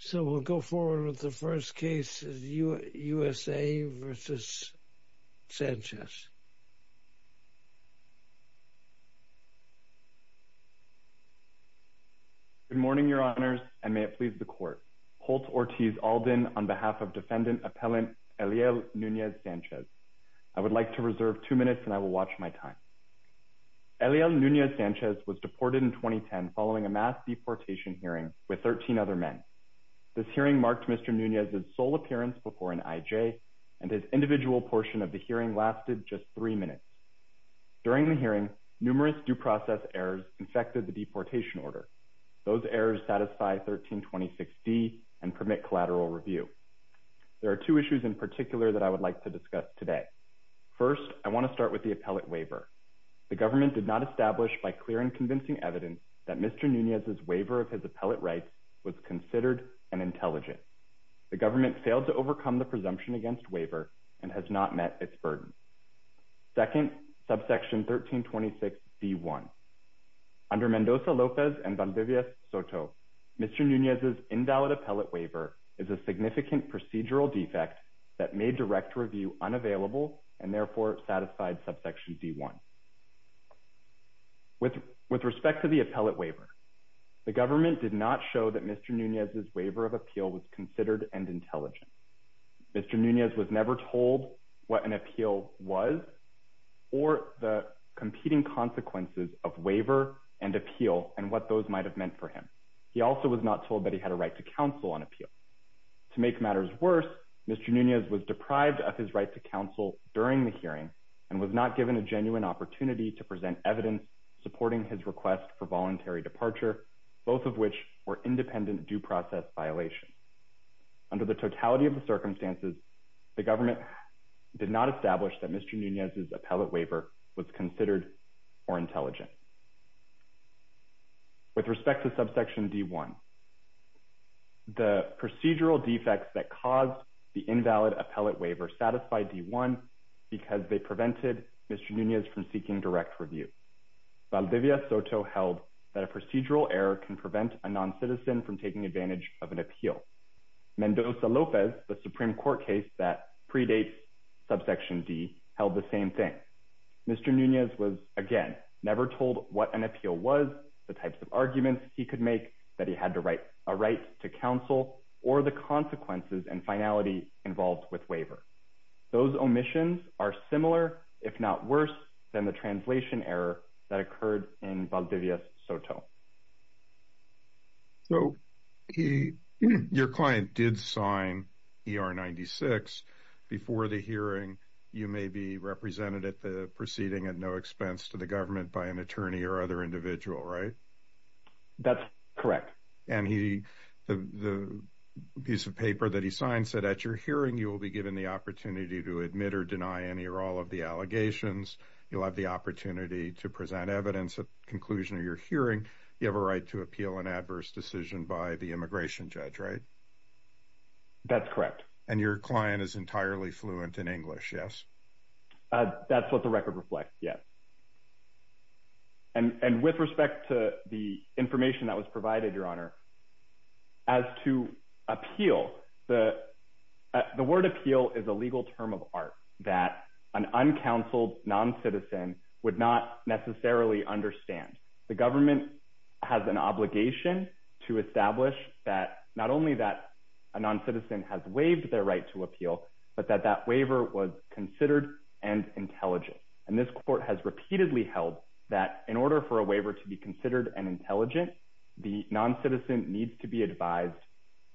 So we'll go forward with the first case, USA v. Sanchez. Good morning, Your Honors, and may it please the Court. Holt Ortiz Alden on behalf of Defendant Appellant Eliel Nunez Sanchez. I would like to reserve two minutes and I will watch my time. Eliel Nunez Sanchez was deported in 2010 following a mass deportation hearing with 13 other men. This hearing marked Mr. Nunez's sole appearance before an IJ, and his individual portion of the hearing lasted just three minutes. During the hearing, numerous due process errors infected the deportation order. Those errors satisfy 1326D and permit collateral review. There are two issues in particular that I would like to discuss today. First, I want to start with the appellate waiver. The government did not establish by clear and convincing evidence that Mr. Nunez's waiver of his appellate rights was considered an intelligence. The government failed to overcome the presumption against waiver and has not met its burden. Second, subsection 1326D1. Under Mendoza-Lopez and Valdivia-Soto, Mr. Nunez's invalid appellate waiver is a significant procedural defect that made direct review unavailable and therefore satisfied subsection D1. With respect to the appellate waiver, the government did not show that Mr. Nunez's waiver of appeal was considered an intelligence. Mr. Nunez was never told what an appeal was or the competing consequences of waiver and appeal and what those might have meant for him. He also was not told that he had a right to counsel on appeal. To make matters worse, Mr. Nunez was deprived of his right to counsel during the hearing and was not given a genuine opportunity to present evidence supporting his request for voluntary departure, both of which were independent due process violations. Under the totality of the circumstances, the government did not establish that Mr. Nunez's appellate waiver was considered or intelligent. With respect to subsection D1, the procedural defects that caused the invalid appellate waiver satisfied D1 because they prevented Mr. Nunez from seeking direct review. Valdivia-Soto held that a procedural error can prevent a noncitizen from taking advantage of an appeal. Mendoza-Lopez, the Supreme Court case that predates subsection D, held the same thing. Mr. Nunez was, again, never told what an appeal was, the types of arguments he could make that he had a right to counsel, or the consequences and finality involved with waiver. Those omissions are similar, if not worse, than the translation error that occurred in Valdivia-Soto. Your client did sign ER 96. Before the hearing, you may be represented at the proceeding at no expense to the government by an attorney or other individual, right? That's correct. And the piece of paper that he signed said, at your hearing, you will be given the opportunity to admit or deny any or all of the allegations. You'll have the opportunity to present evidence at the conclusion of your hearing. You have a right to appeal an adverse decision by the immigration judge, right? That's correct. And your client is entirely fluent in English, yes? That's what the record reflects, yes. And with respect to the information that was provided, Your Honor, as to appeal, the word appeal is a legal term of art that an uncounseled noncitizen would not necessarily understand. The government has an obligation to establish that, not only that a noncitizen has waived their right to appeal, but that that waiver was considered and intelligent. And this court has repeatedly held that in order for a waiver to be considered and intelligent, the noncitizen needs to be advised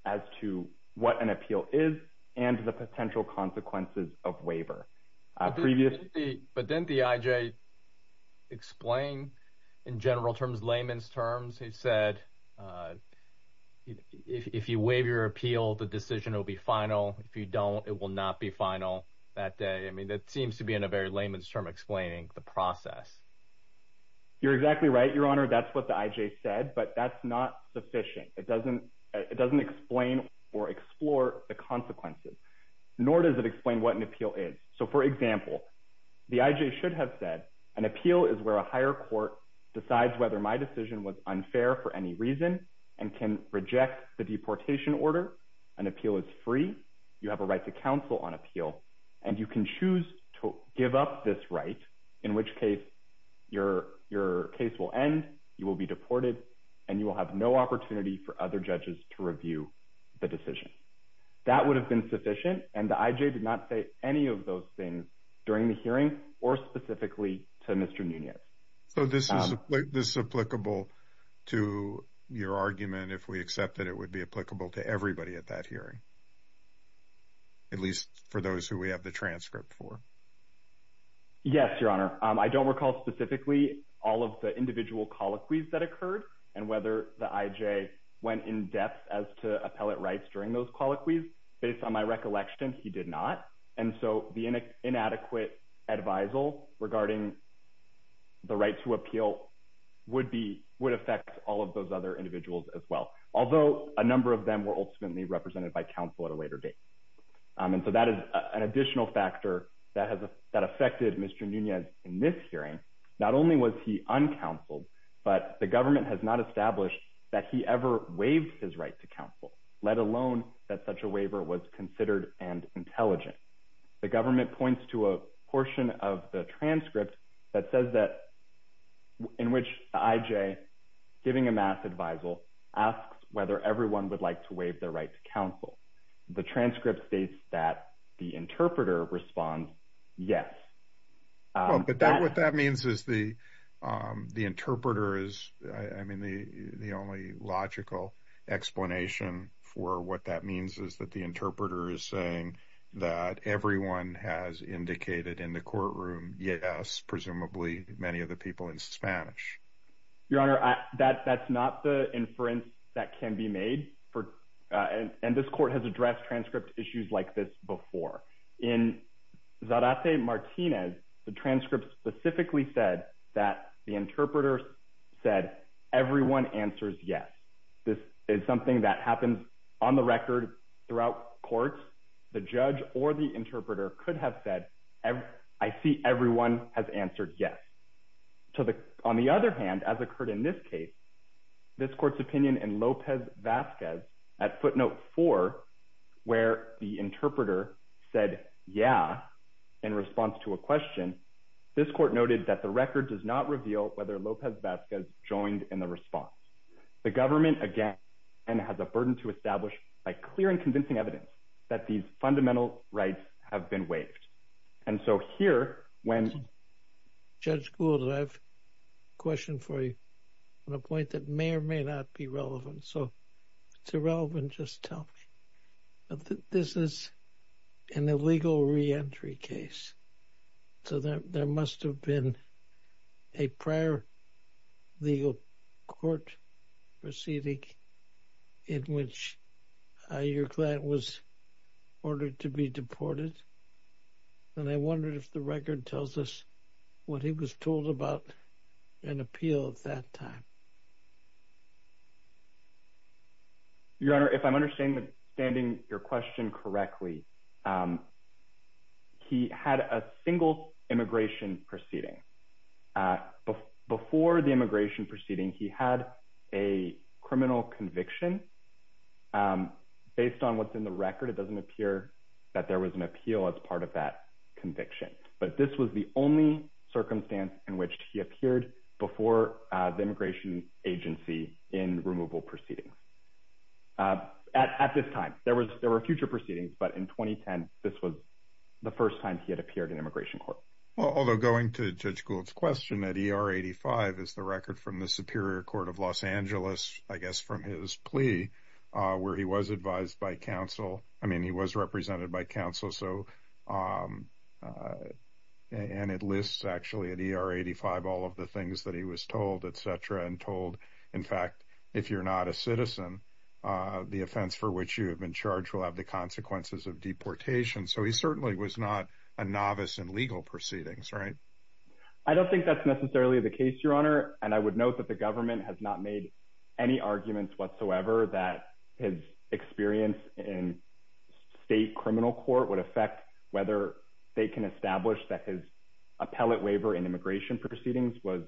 as to what an appeal is and the potential consequences of waiver. But didn't the IJ explain in general terms, layman's terms, he said if you waive your appeal, the decision will be final. If you don't, it will not be final that day. I mean, that seems to be in a very layman's term explaining the process. You're exactly right, Your Honor. That's what the IJ said, but that's not sufficient. It doesn't explain or explore the consequences, nor does it explain what an appeal is. So, for example, the IJ should have said an appeal is where a higher court decides whether my decision was unfair for any reason and can reject the deportation order. An appeal is free. You have a right to counsel on appeal, and you can choose to give up this right, in which case your case will end, you will be deported, and you will have no opportunity for other judges to review the decision. That would have been sufficient, and the IJ did not say any of those things during the hearing or specifically to Mr. Nunez. So this is applicable to your argument if we accept that it would be applicable to everybody at that hearing, at least for those who we have the transcript for? Yes, Your Honor. I don't recall specifically all of the individual colloquies that occurred and whether the IJ went in-depth as to appellate rights during those colloquies. Based on my recollection, he did not. And so the inadequate advisal regarding the right to appeal would affect all of those other individuals as well, although a number of them were ultimately represented by counsel at a later date. And so that is an additional factor that affected Mr. Nunez in this hearing. Not only was he uncounseled, but the government has not established that he ever waived his right to counsel, let alone that such a waiver was considered and intelligent. The government points to a portion of the transcript that says that in which the IJ, giving a mass advisal, asks whether everyone would like to waive their right to counsel. The transcript states that the interpreter responds, yes. What that means is the interpreter is the only logical explanation for what that means is that the interpreter is saying that everyone has indicated in the courtroom, yes, presumably many of the people in Spanish. Your Honor, that's not the inference that can be made. And this court has addressed transcript issues like this before. In Zarate Martinez, the transcript specifically said that the interpreter said, everyone answers yes. This is something that happens on the record throughout courts. The judge or the interpreter could have said, I see everyone has answered yes. On the other hand, as occurred in this case, this court's opinion in Lopez Vasquez at footnote four, where the interpreter said, yeah, in response to a question, this court noted that the record does not reveal whether Lopez Vasquez joined in the response. The government, again, has a burden to establish by clear and convincing evidence that these fundamental rights have been waived. And so here when- Judge Gould, I have a question for you on a point that may or may not be relevant. So if it's irrelevant, just tell me. This is an illegal reentry case. So there must have been a prior legal court proceeding in which your client was ordered to be deported. And I wondered if the record tells us what he was told about an appeal at that time. Your Honor, if I'm understanding your question correctly, he had a single immigration proceeding. Before the immigration proceeding, he had a criminal conviction. Based on what's in the record, it doesn't appear that there was an appeal as part of that conviction. But this was the only circumstance in which he appeared before the immigration agency in removal proceedings. At this time. There were future proceedings, but in 2010, this was the first time he had appeared in immigration court. Although going to Judge Gould's question, at ER 85 is the record from the Superior Court of Los Angeles, I guess from his plea, where he was advised by counsel. I mean, he was represented by counsel. And it lists actually at ER 85 all of the things that he was told, et cetera, and told, in fact, if you're not a citizen, the offense for which you have been charged will have the consequences of deportation. So he certainly was not a novice in legal proceedings, right? I don't think that's necessarily the case, Your Honor. And I would note that the government has not made any arguments whatsoever that his experience in state criminal court would affect whether they can establish that his appellate waiver in immigration proceedings was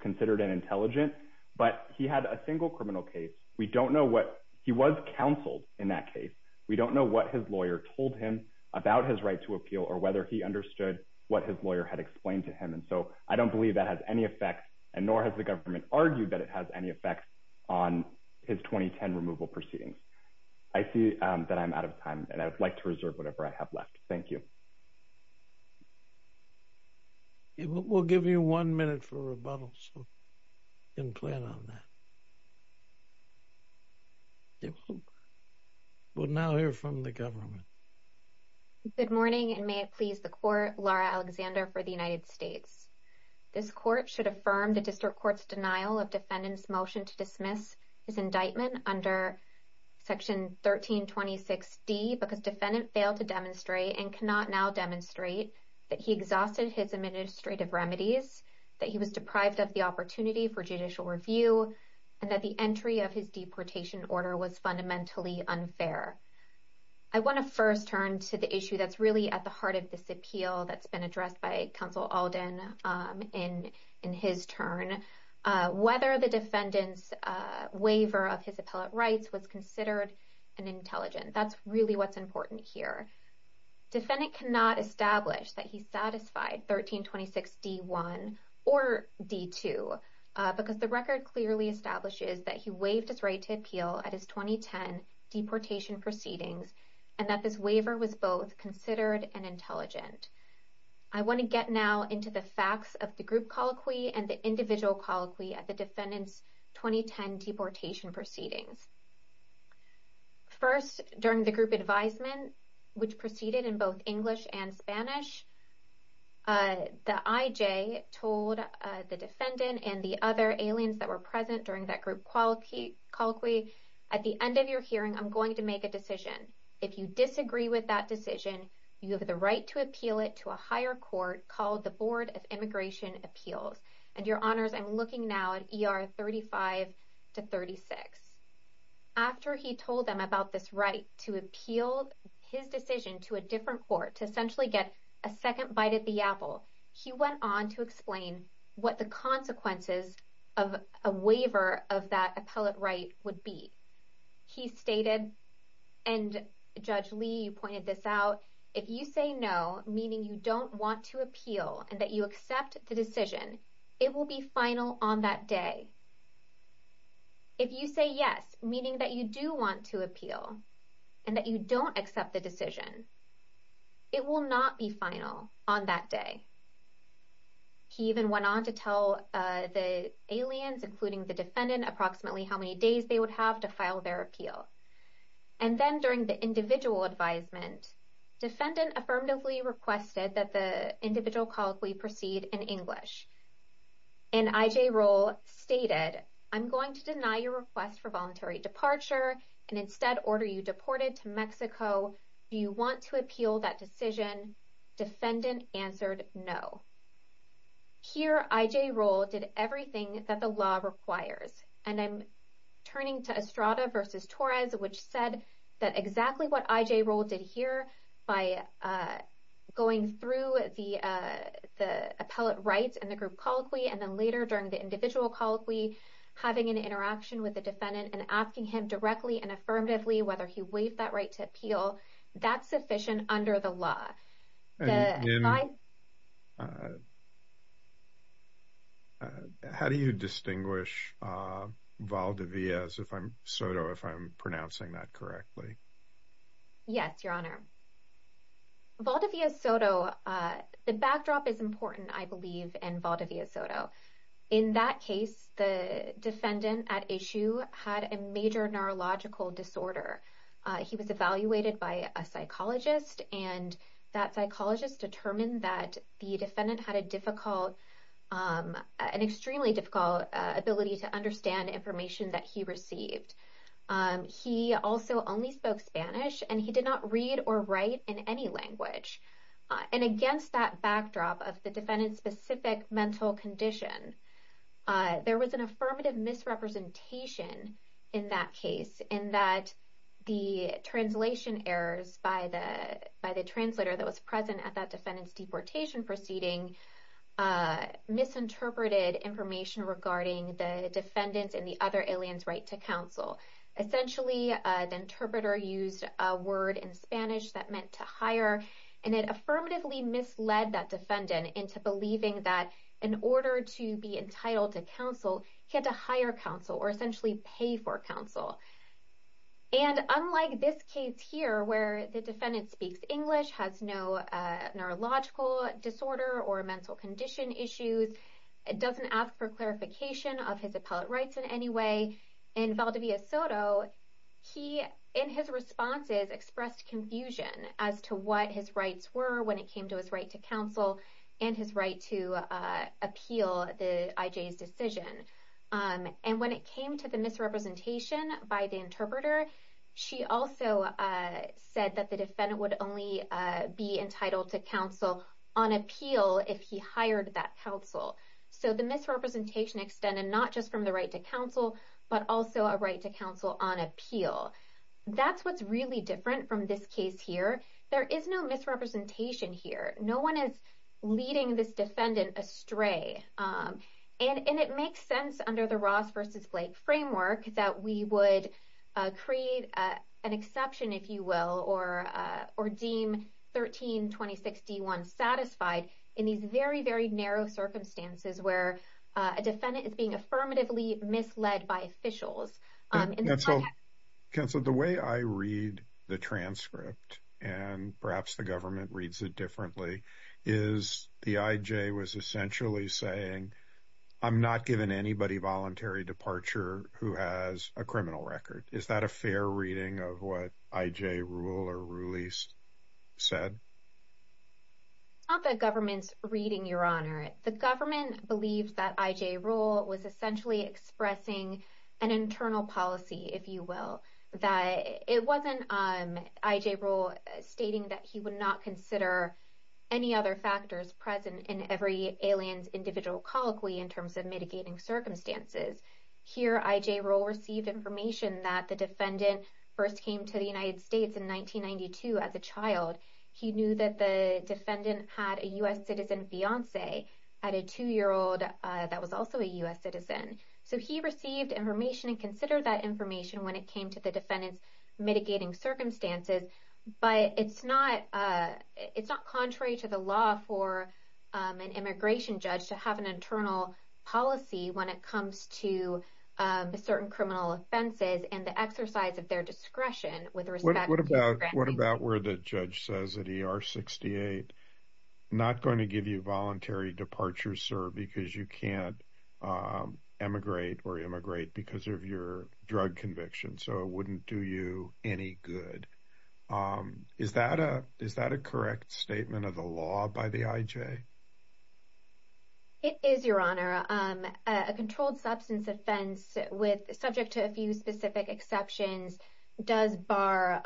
considered an intelligent. But he had a single criminal case. We don't know what he was counseled in that case. We don't know what his lawyer told him about his right to appeal or whether he understood what his lawyer had explained to him. And so I don't believe that has any effect, and nor has the government argued that it has any effect on his 2010 removal proceedings. I see that I'm out of time, and I would like to reserve whatever I have left. Thank you. We'll give you one minute for rebuttal, so you can plan on that. We'll now hear from the government. Good morning, and may it please the court. Laura Alexander for the United States. This court should affirm the district court's denial of defendant's motion to dismiss his indictment under Section 1326D because defendant failed to demonstrate and cannot now demonstrate that he exhausted his administrative remedies, that he was deprived of the opportunity for judicial review, and that the entry of his deportation order was fundamentally unfair. I want to first turn to the issue that's really at the heart of this appeal that's been addressed by Counsel Alden in his turn, whether the defendant's waiver of his appellate rights was considered an intelligent. That's really what's important here. Defendant cannot establish that he satisfied 1326D1 or D2, because the record clearly establishes that he waived his right to appeal at his 2010 deportation proceedings, and that this waiver was both considered and intelligent. I want to get now into the facts of the group colloquy and the individual colloquy at the defendant's 2010 deportation proceedings. First, during the group advisement, which proceeded in both English and Spanish, the IJ told the defendant and the other aliens that were present during that group colloquy, at the end of your hearing, I'm going to make a decision. If you disagree with that decision, you have the right to appeal it to a higher court called the Board of Immigration Appeals. Your Honors, I'm looking now at ER 35-36. After he told them about this right to appeal his decision to a different court to essentially get a second bite at the apple, he went on to explain what the consequences of a waiver of that appellate right would be. He stated, and Judge Lee, you pointed this out, if you say no, meaning you don't want to appeal and that you accept the decision, it will be final on that day. If you say yes, meaning that you do want to appeal and that you don't accept the decision, it will not be final on that day. He even went on to tell the aliens, including the defendant, approximately how many days they would have to file their appeal. And then during the individual advisement, defendant affirmatively requested that the individual colloquy proceed in English. And I.J. Rohl stated, I'm going to deny your request for voluntary departure and instead order you deported to Mexico. Do you want to appeal that decision? Defendant answered no. Here, I.J. Rohl did everything that the law requires. And I'm turning to Estrada v. Torres, which said that exactly what I.J. Rohl did here by going through the appellate rights and the group colloquy, and then later during the individual colloquy, having an interaction with the defendant and asking him directly and affirmatively whether he waived that right to appeal. That's sufficient under the law. How do you distinguish Valdez, Soto, if I'm pronouncing that correctly? Yes, Your Honor. Valdez, Soto, the backdrop is important, I believe, in Valdez, Soto. In that case, the defendant at issue had a major neurological disorder. He was evaluated by a psychologist, and that psychologist determined that the defendant had an extremely difficult ability to understand information that he received. He also only spoke Spanish, and he did not read or write in any language. And against that backdrop of the defendant's specific mental condition, there was an affirmative misrepresentation in that case in that the translation errors by the translator that was present at that defendant's deportation proceeding misinterpreted information regarding the defendant's and the other alien's right to counsel. Essentially, the interpreter used a word in Spanish that meant to hire, and it affirmatively misled that defendant into believing that in order to be entitled to counsel, he had to hire counsel or essentially pay for counsel. And unlike this case here where the defendant speaks English, has no neurological disorder or mental condition issues, doesn't ask for clarification of his appellate rights in any way, in Valdez, Soto, he, in his responses, expressed confusion as to what his rights were when it came to his right to counsel and his right to appeal the IJ's decision. And when it came to the misrepresentation by the interpreter, she also said that the defendant would only be entitled to counsel on appeal if he hired that counsel. So the misrepresentation extended not just from the right to counsel, but also a right to counsel on appeal. That's what's really different from this case here. There is no misrepresentation here. No one is leading this defendant astray. And it makes sense under the Ross versus Blake framework that we would create an exception, if you will, or deem 1326 D1 satisfied in these very, very narrow circumstances where a defendant is being affirmatively misled by officials. Counsel, the way I read the transcript, and perhaps the government reads it differently, is the IJ was essentially saying, I'm not giving anybody voluntary departure who has a criminal record. Is that a fair reading of what IJ Rule or Ruleese said? It's not the government's reading, Your Honor. The government believes that IJ Rule was essentially expressing an internal policy, if you will. It wasn't IJ Rule stating that he would not consider any other factors present in every alien's individual colloquy in terms of mitigating circumstances. Here, IJ Rule received information that the defendant first came to the United States in 1992 as a child. He knew that the defendant had a U.S. citizen fiancee at a 2-year-old that was also a U.S. citizen. So he received information and considered that information when it came to the defendant's mitigating circumstances. But it's not contrary to the law for an immigration judge to have an internal policy when it comes to certain criminal offenses and the exercise of their discretion with respect to granting. What about where the judge says at ER 68, I'm not going to give you voluntary departure, sir, because you can't emigrate or immigrate because of your drug conviction. So it wouldn't do you any good. Is that a correct statement of the law by the IJ? It is, Your Honor. A controlled substance offense subject to a few specific exceptions does bar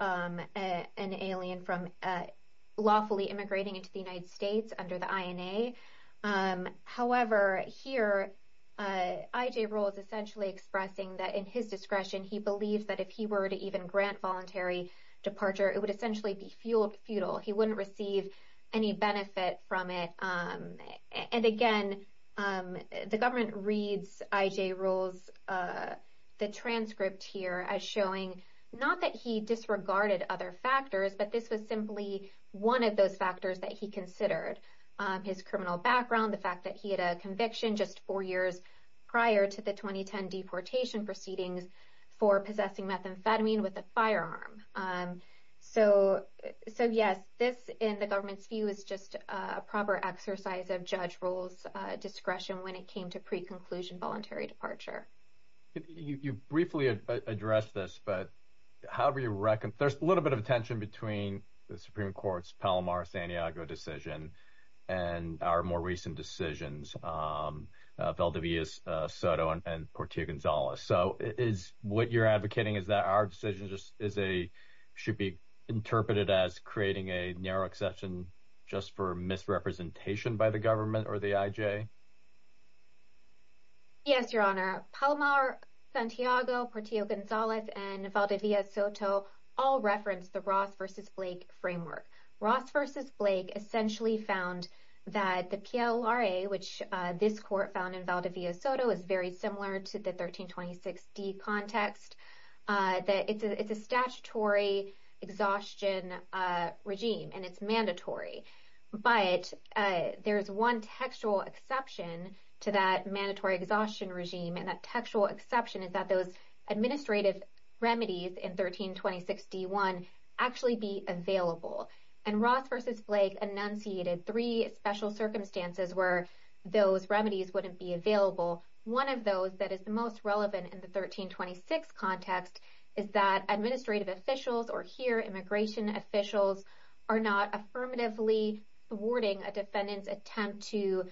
an alien from lawfully immigrating into the United States under the INA. However, here, IJ Rule is essentially expressing that in his discretion, he believes that if he were to even grant voluntary departure, it would essentially be futile. He wouldn't receive any benefit from it. And again, the government reads IJ Rule's transcript here as showing not that he disregarded other factors, but this was simply one of those factors that he considered. His criminal background, the fact that he had a conviction just four years prior to the 2010 deportation proceedings for possessing methamphetamine with a firearm. So, yes, this, in the government's view, is just a proper exercise of judge rule's discretion when it came to pre-conclusion voluntary departure. You briefly addressed this, but however you reckon, there's a little bit of tension between the Supreme Court's Palomar-Santiago decision and our more recent decisions, Valdivia-Soto and Portillo-Gonzalez. So, what you're advocating is that our decision should be interpreted as creating a narrow exception just for misrepresentation by the government or the IJ? Yes, Your Honor. Palomar-Santiago, Portillo-Gonzalez, and Valdivia-Soto all reference the Ross v. Blake framework. Ross v. Blake essentially found that the PLRA, which this court found in Valdivia-Soto, is very similar to the 1326d context, that it's a statutory exhaustion regime and it's mandatory. But there's one textual exception to that mandatory exhaustion regime, and that textual exception is that those administrative remedies in 1326d-1 actually be available. And Ross v. Blake enunciated three special circumstances where those remedies wouldn't be available. One of those that is the most relevant in the 1326d context is that administrative officials, or here, immigration officials, are not affirmatively thwarting a defendant's attempt to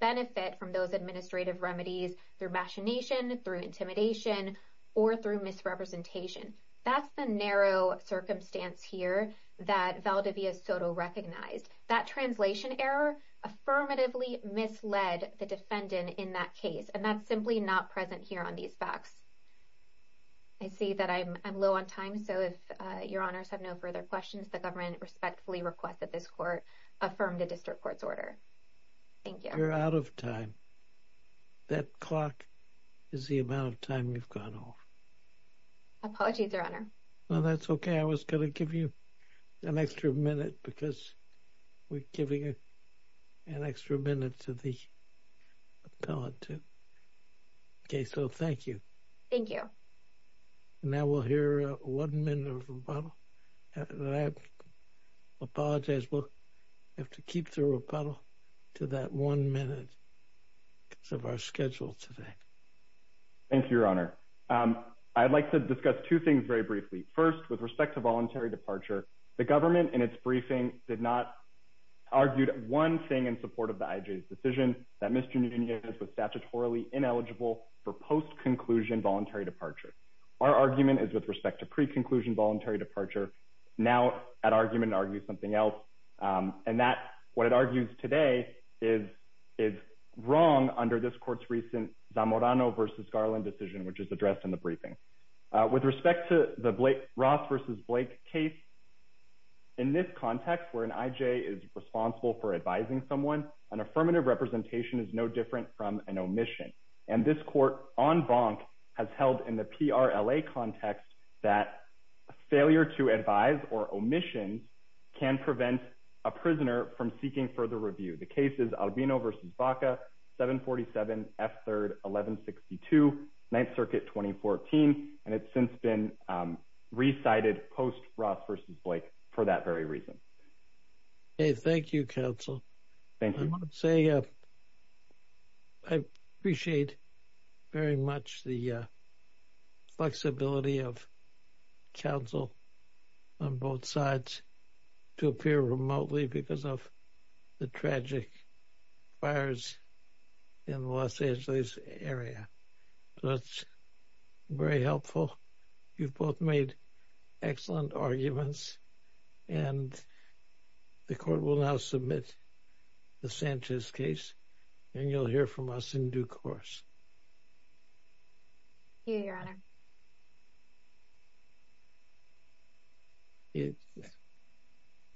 benefit from those administrative remedies through machination, through intimidation, or through misrepresentation. That's the narrow circumstance here that Valdivia-Soto recognized. That translation error affirmatively misled the defendant in that case. And that's simply not present here on these facts. I see that I'm low on time, so if Your Honors have no further questions, the government respectfully requests that this court affirm the district court's order. Thank you. You're out of time. That clock is the amount of time you've gone off. Apologies, Your Honor. Well, that's okay. I was going to give you an extra minute because we're giving an extra minute to the appellate, too. Okay, so thank you. Now we'll hear one minute of rebuttal. And I apologize, we'll have to keep the rebuttal to that one minute because of our schedule today. Thank you, Your Honor. I'd like to discuss two things very briefly. First, with respect to voluntary departure, the government in its briefing did not argue one thing in support of the IJ's decision, that Mr. Nunez was statutorily ineligible for post-conclusion voluntary departure. Our argument is with respect to pre-conclusion voluntary departure. Now that argument argues something else. And what it argues today is wrong under this court's recent Zamorano v. Garland decision, which is addressed in the briefing. With respect to the Ross v. Blake case, in this context where an IJ is responsible for advising someone, an affirmative representation is no different from an omission. And this court, en banc, has held in the PRLA context that failure to advise or omissions can prevent a prisoner from seeking further review. The case is Albino v. Baca, 747 F. 3rd, 1162, 9th Circuit, 2014, and it's since been recited post-Ross v. Blake for that very reason. Thank you, counsel. I want to say I appreciate very much the flexibility of counsel on both sides to appear remotely because of the tragic fires in Los Angeles area. That's very helpful. You've both made excellent arguments, and the court will now submit the Sanchez case, and you'll hear from us in due course. Here, Your Honor. Thank you.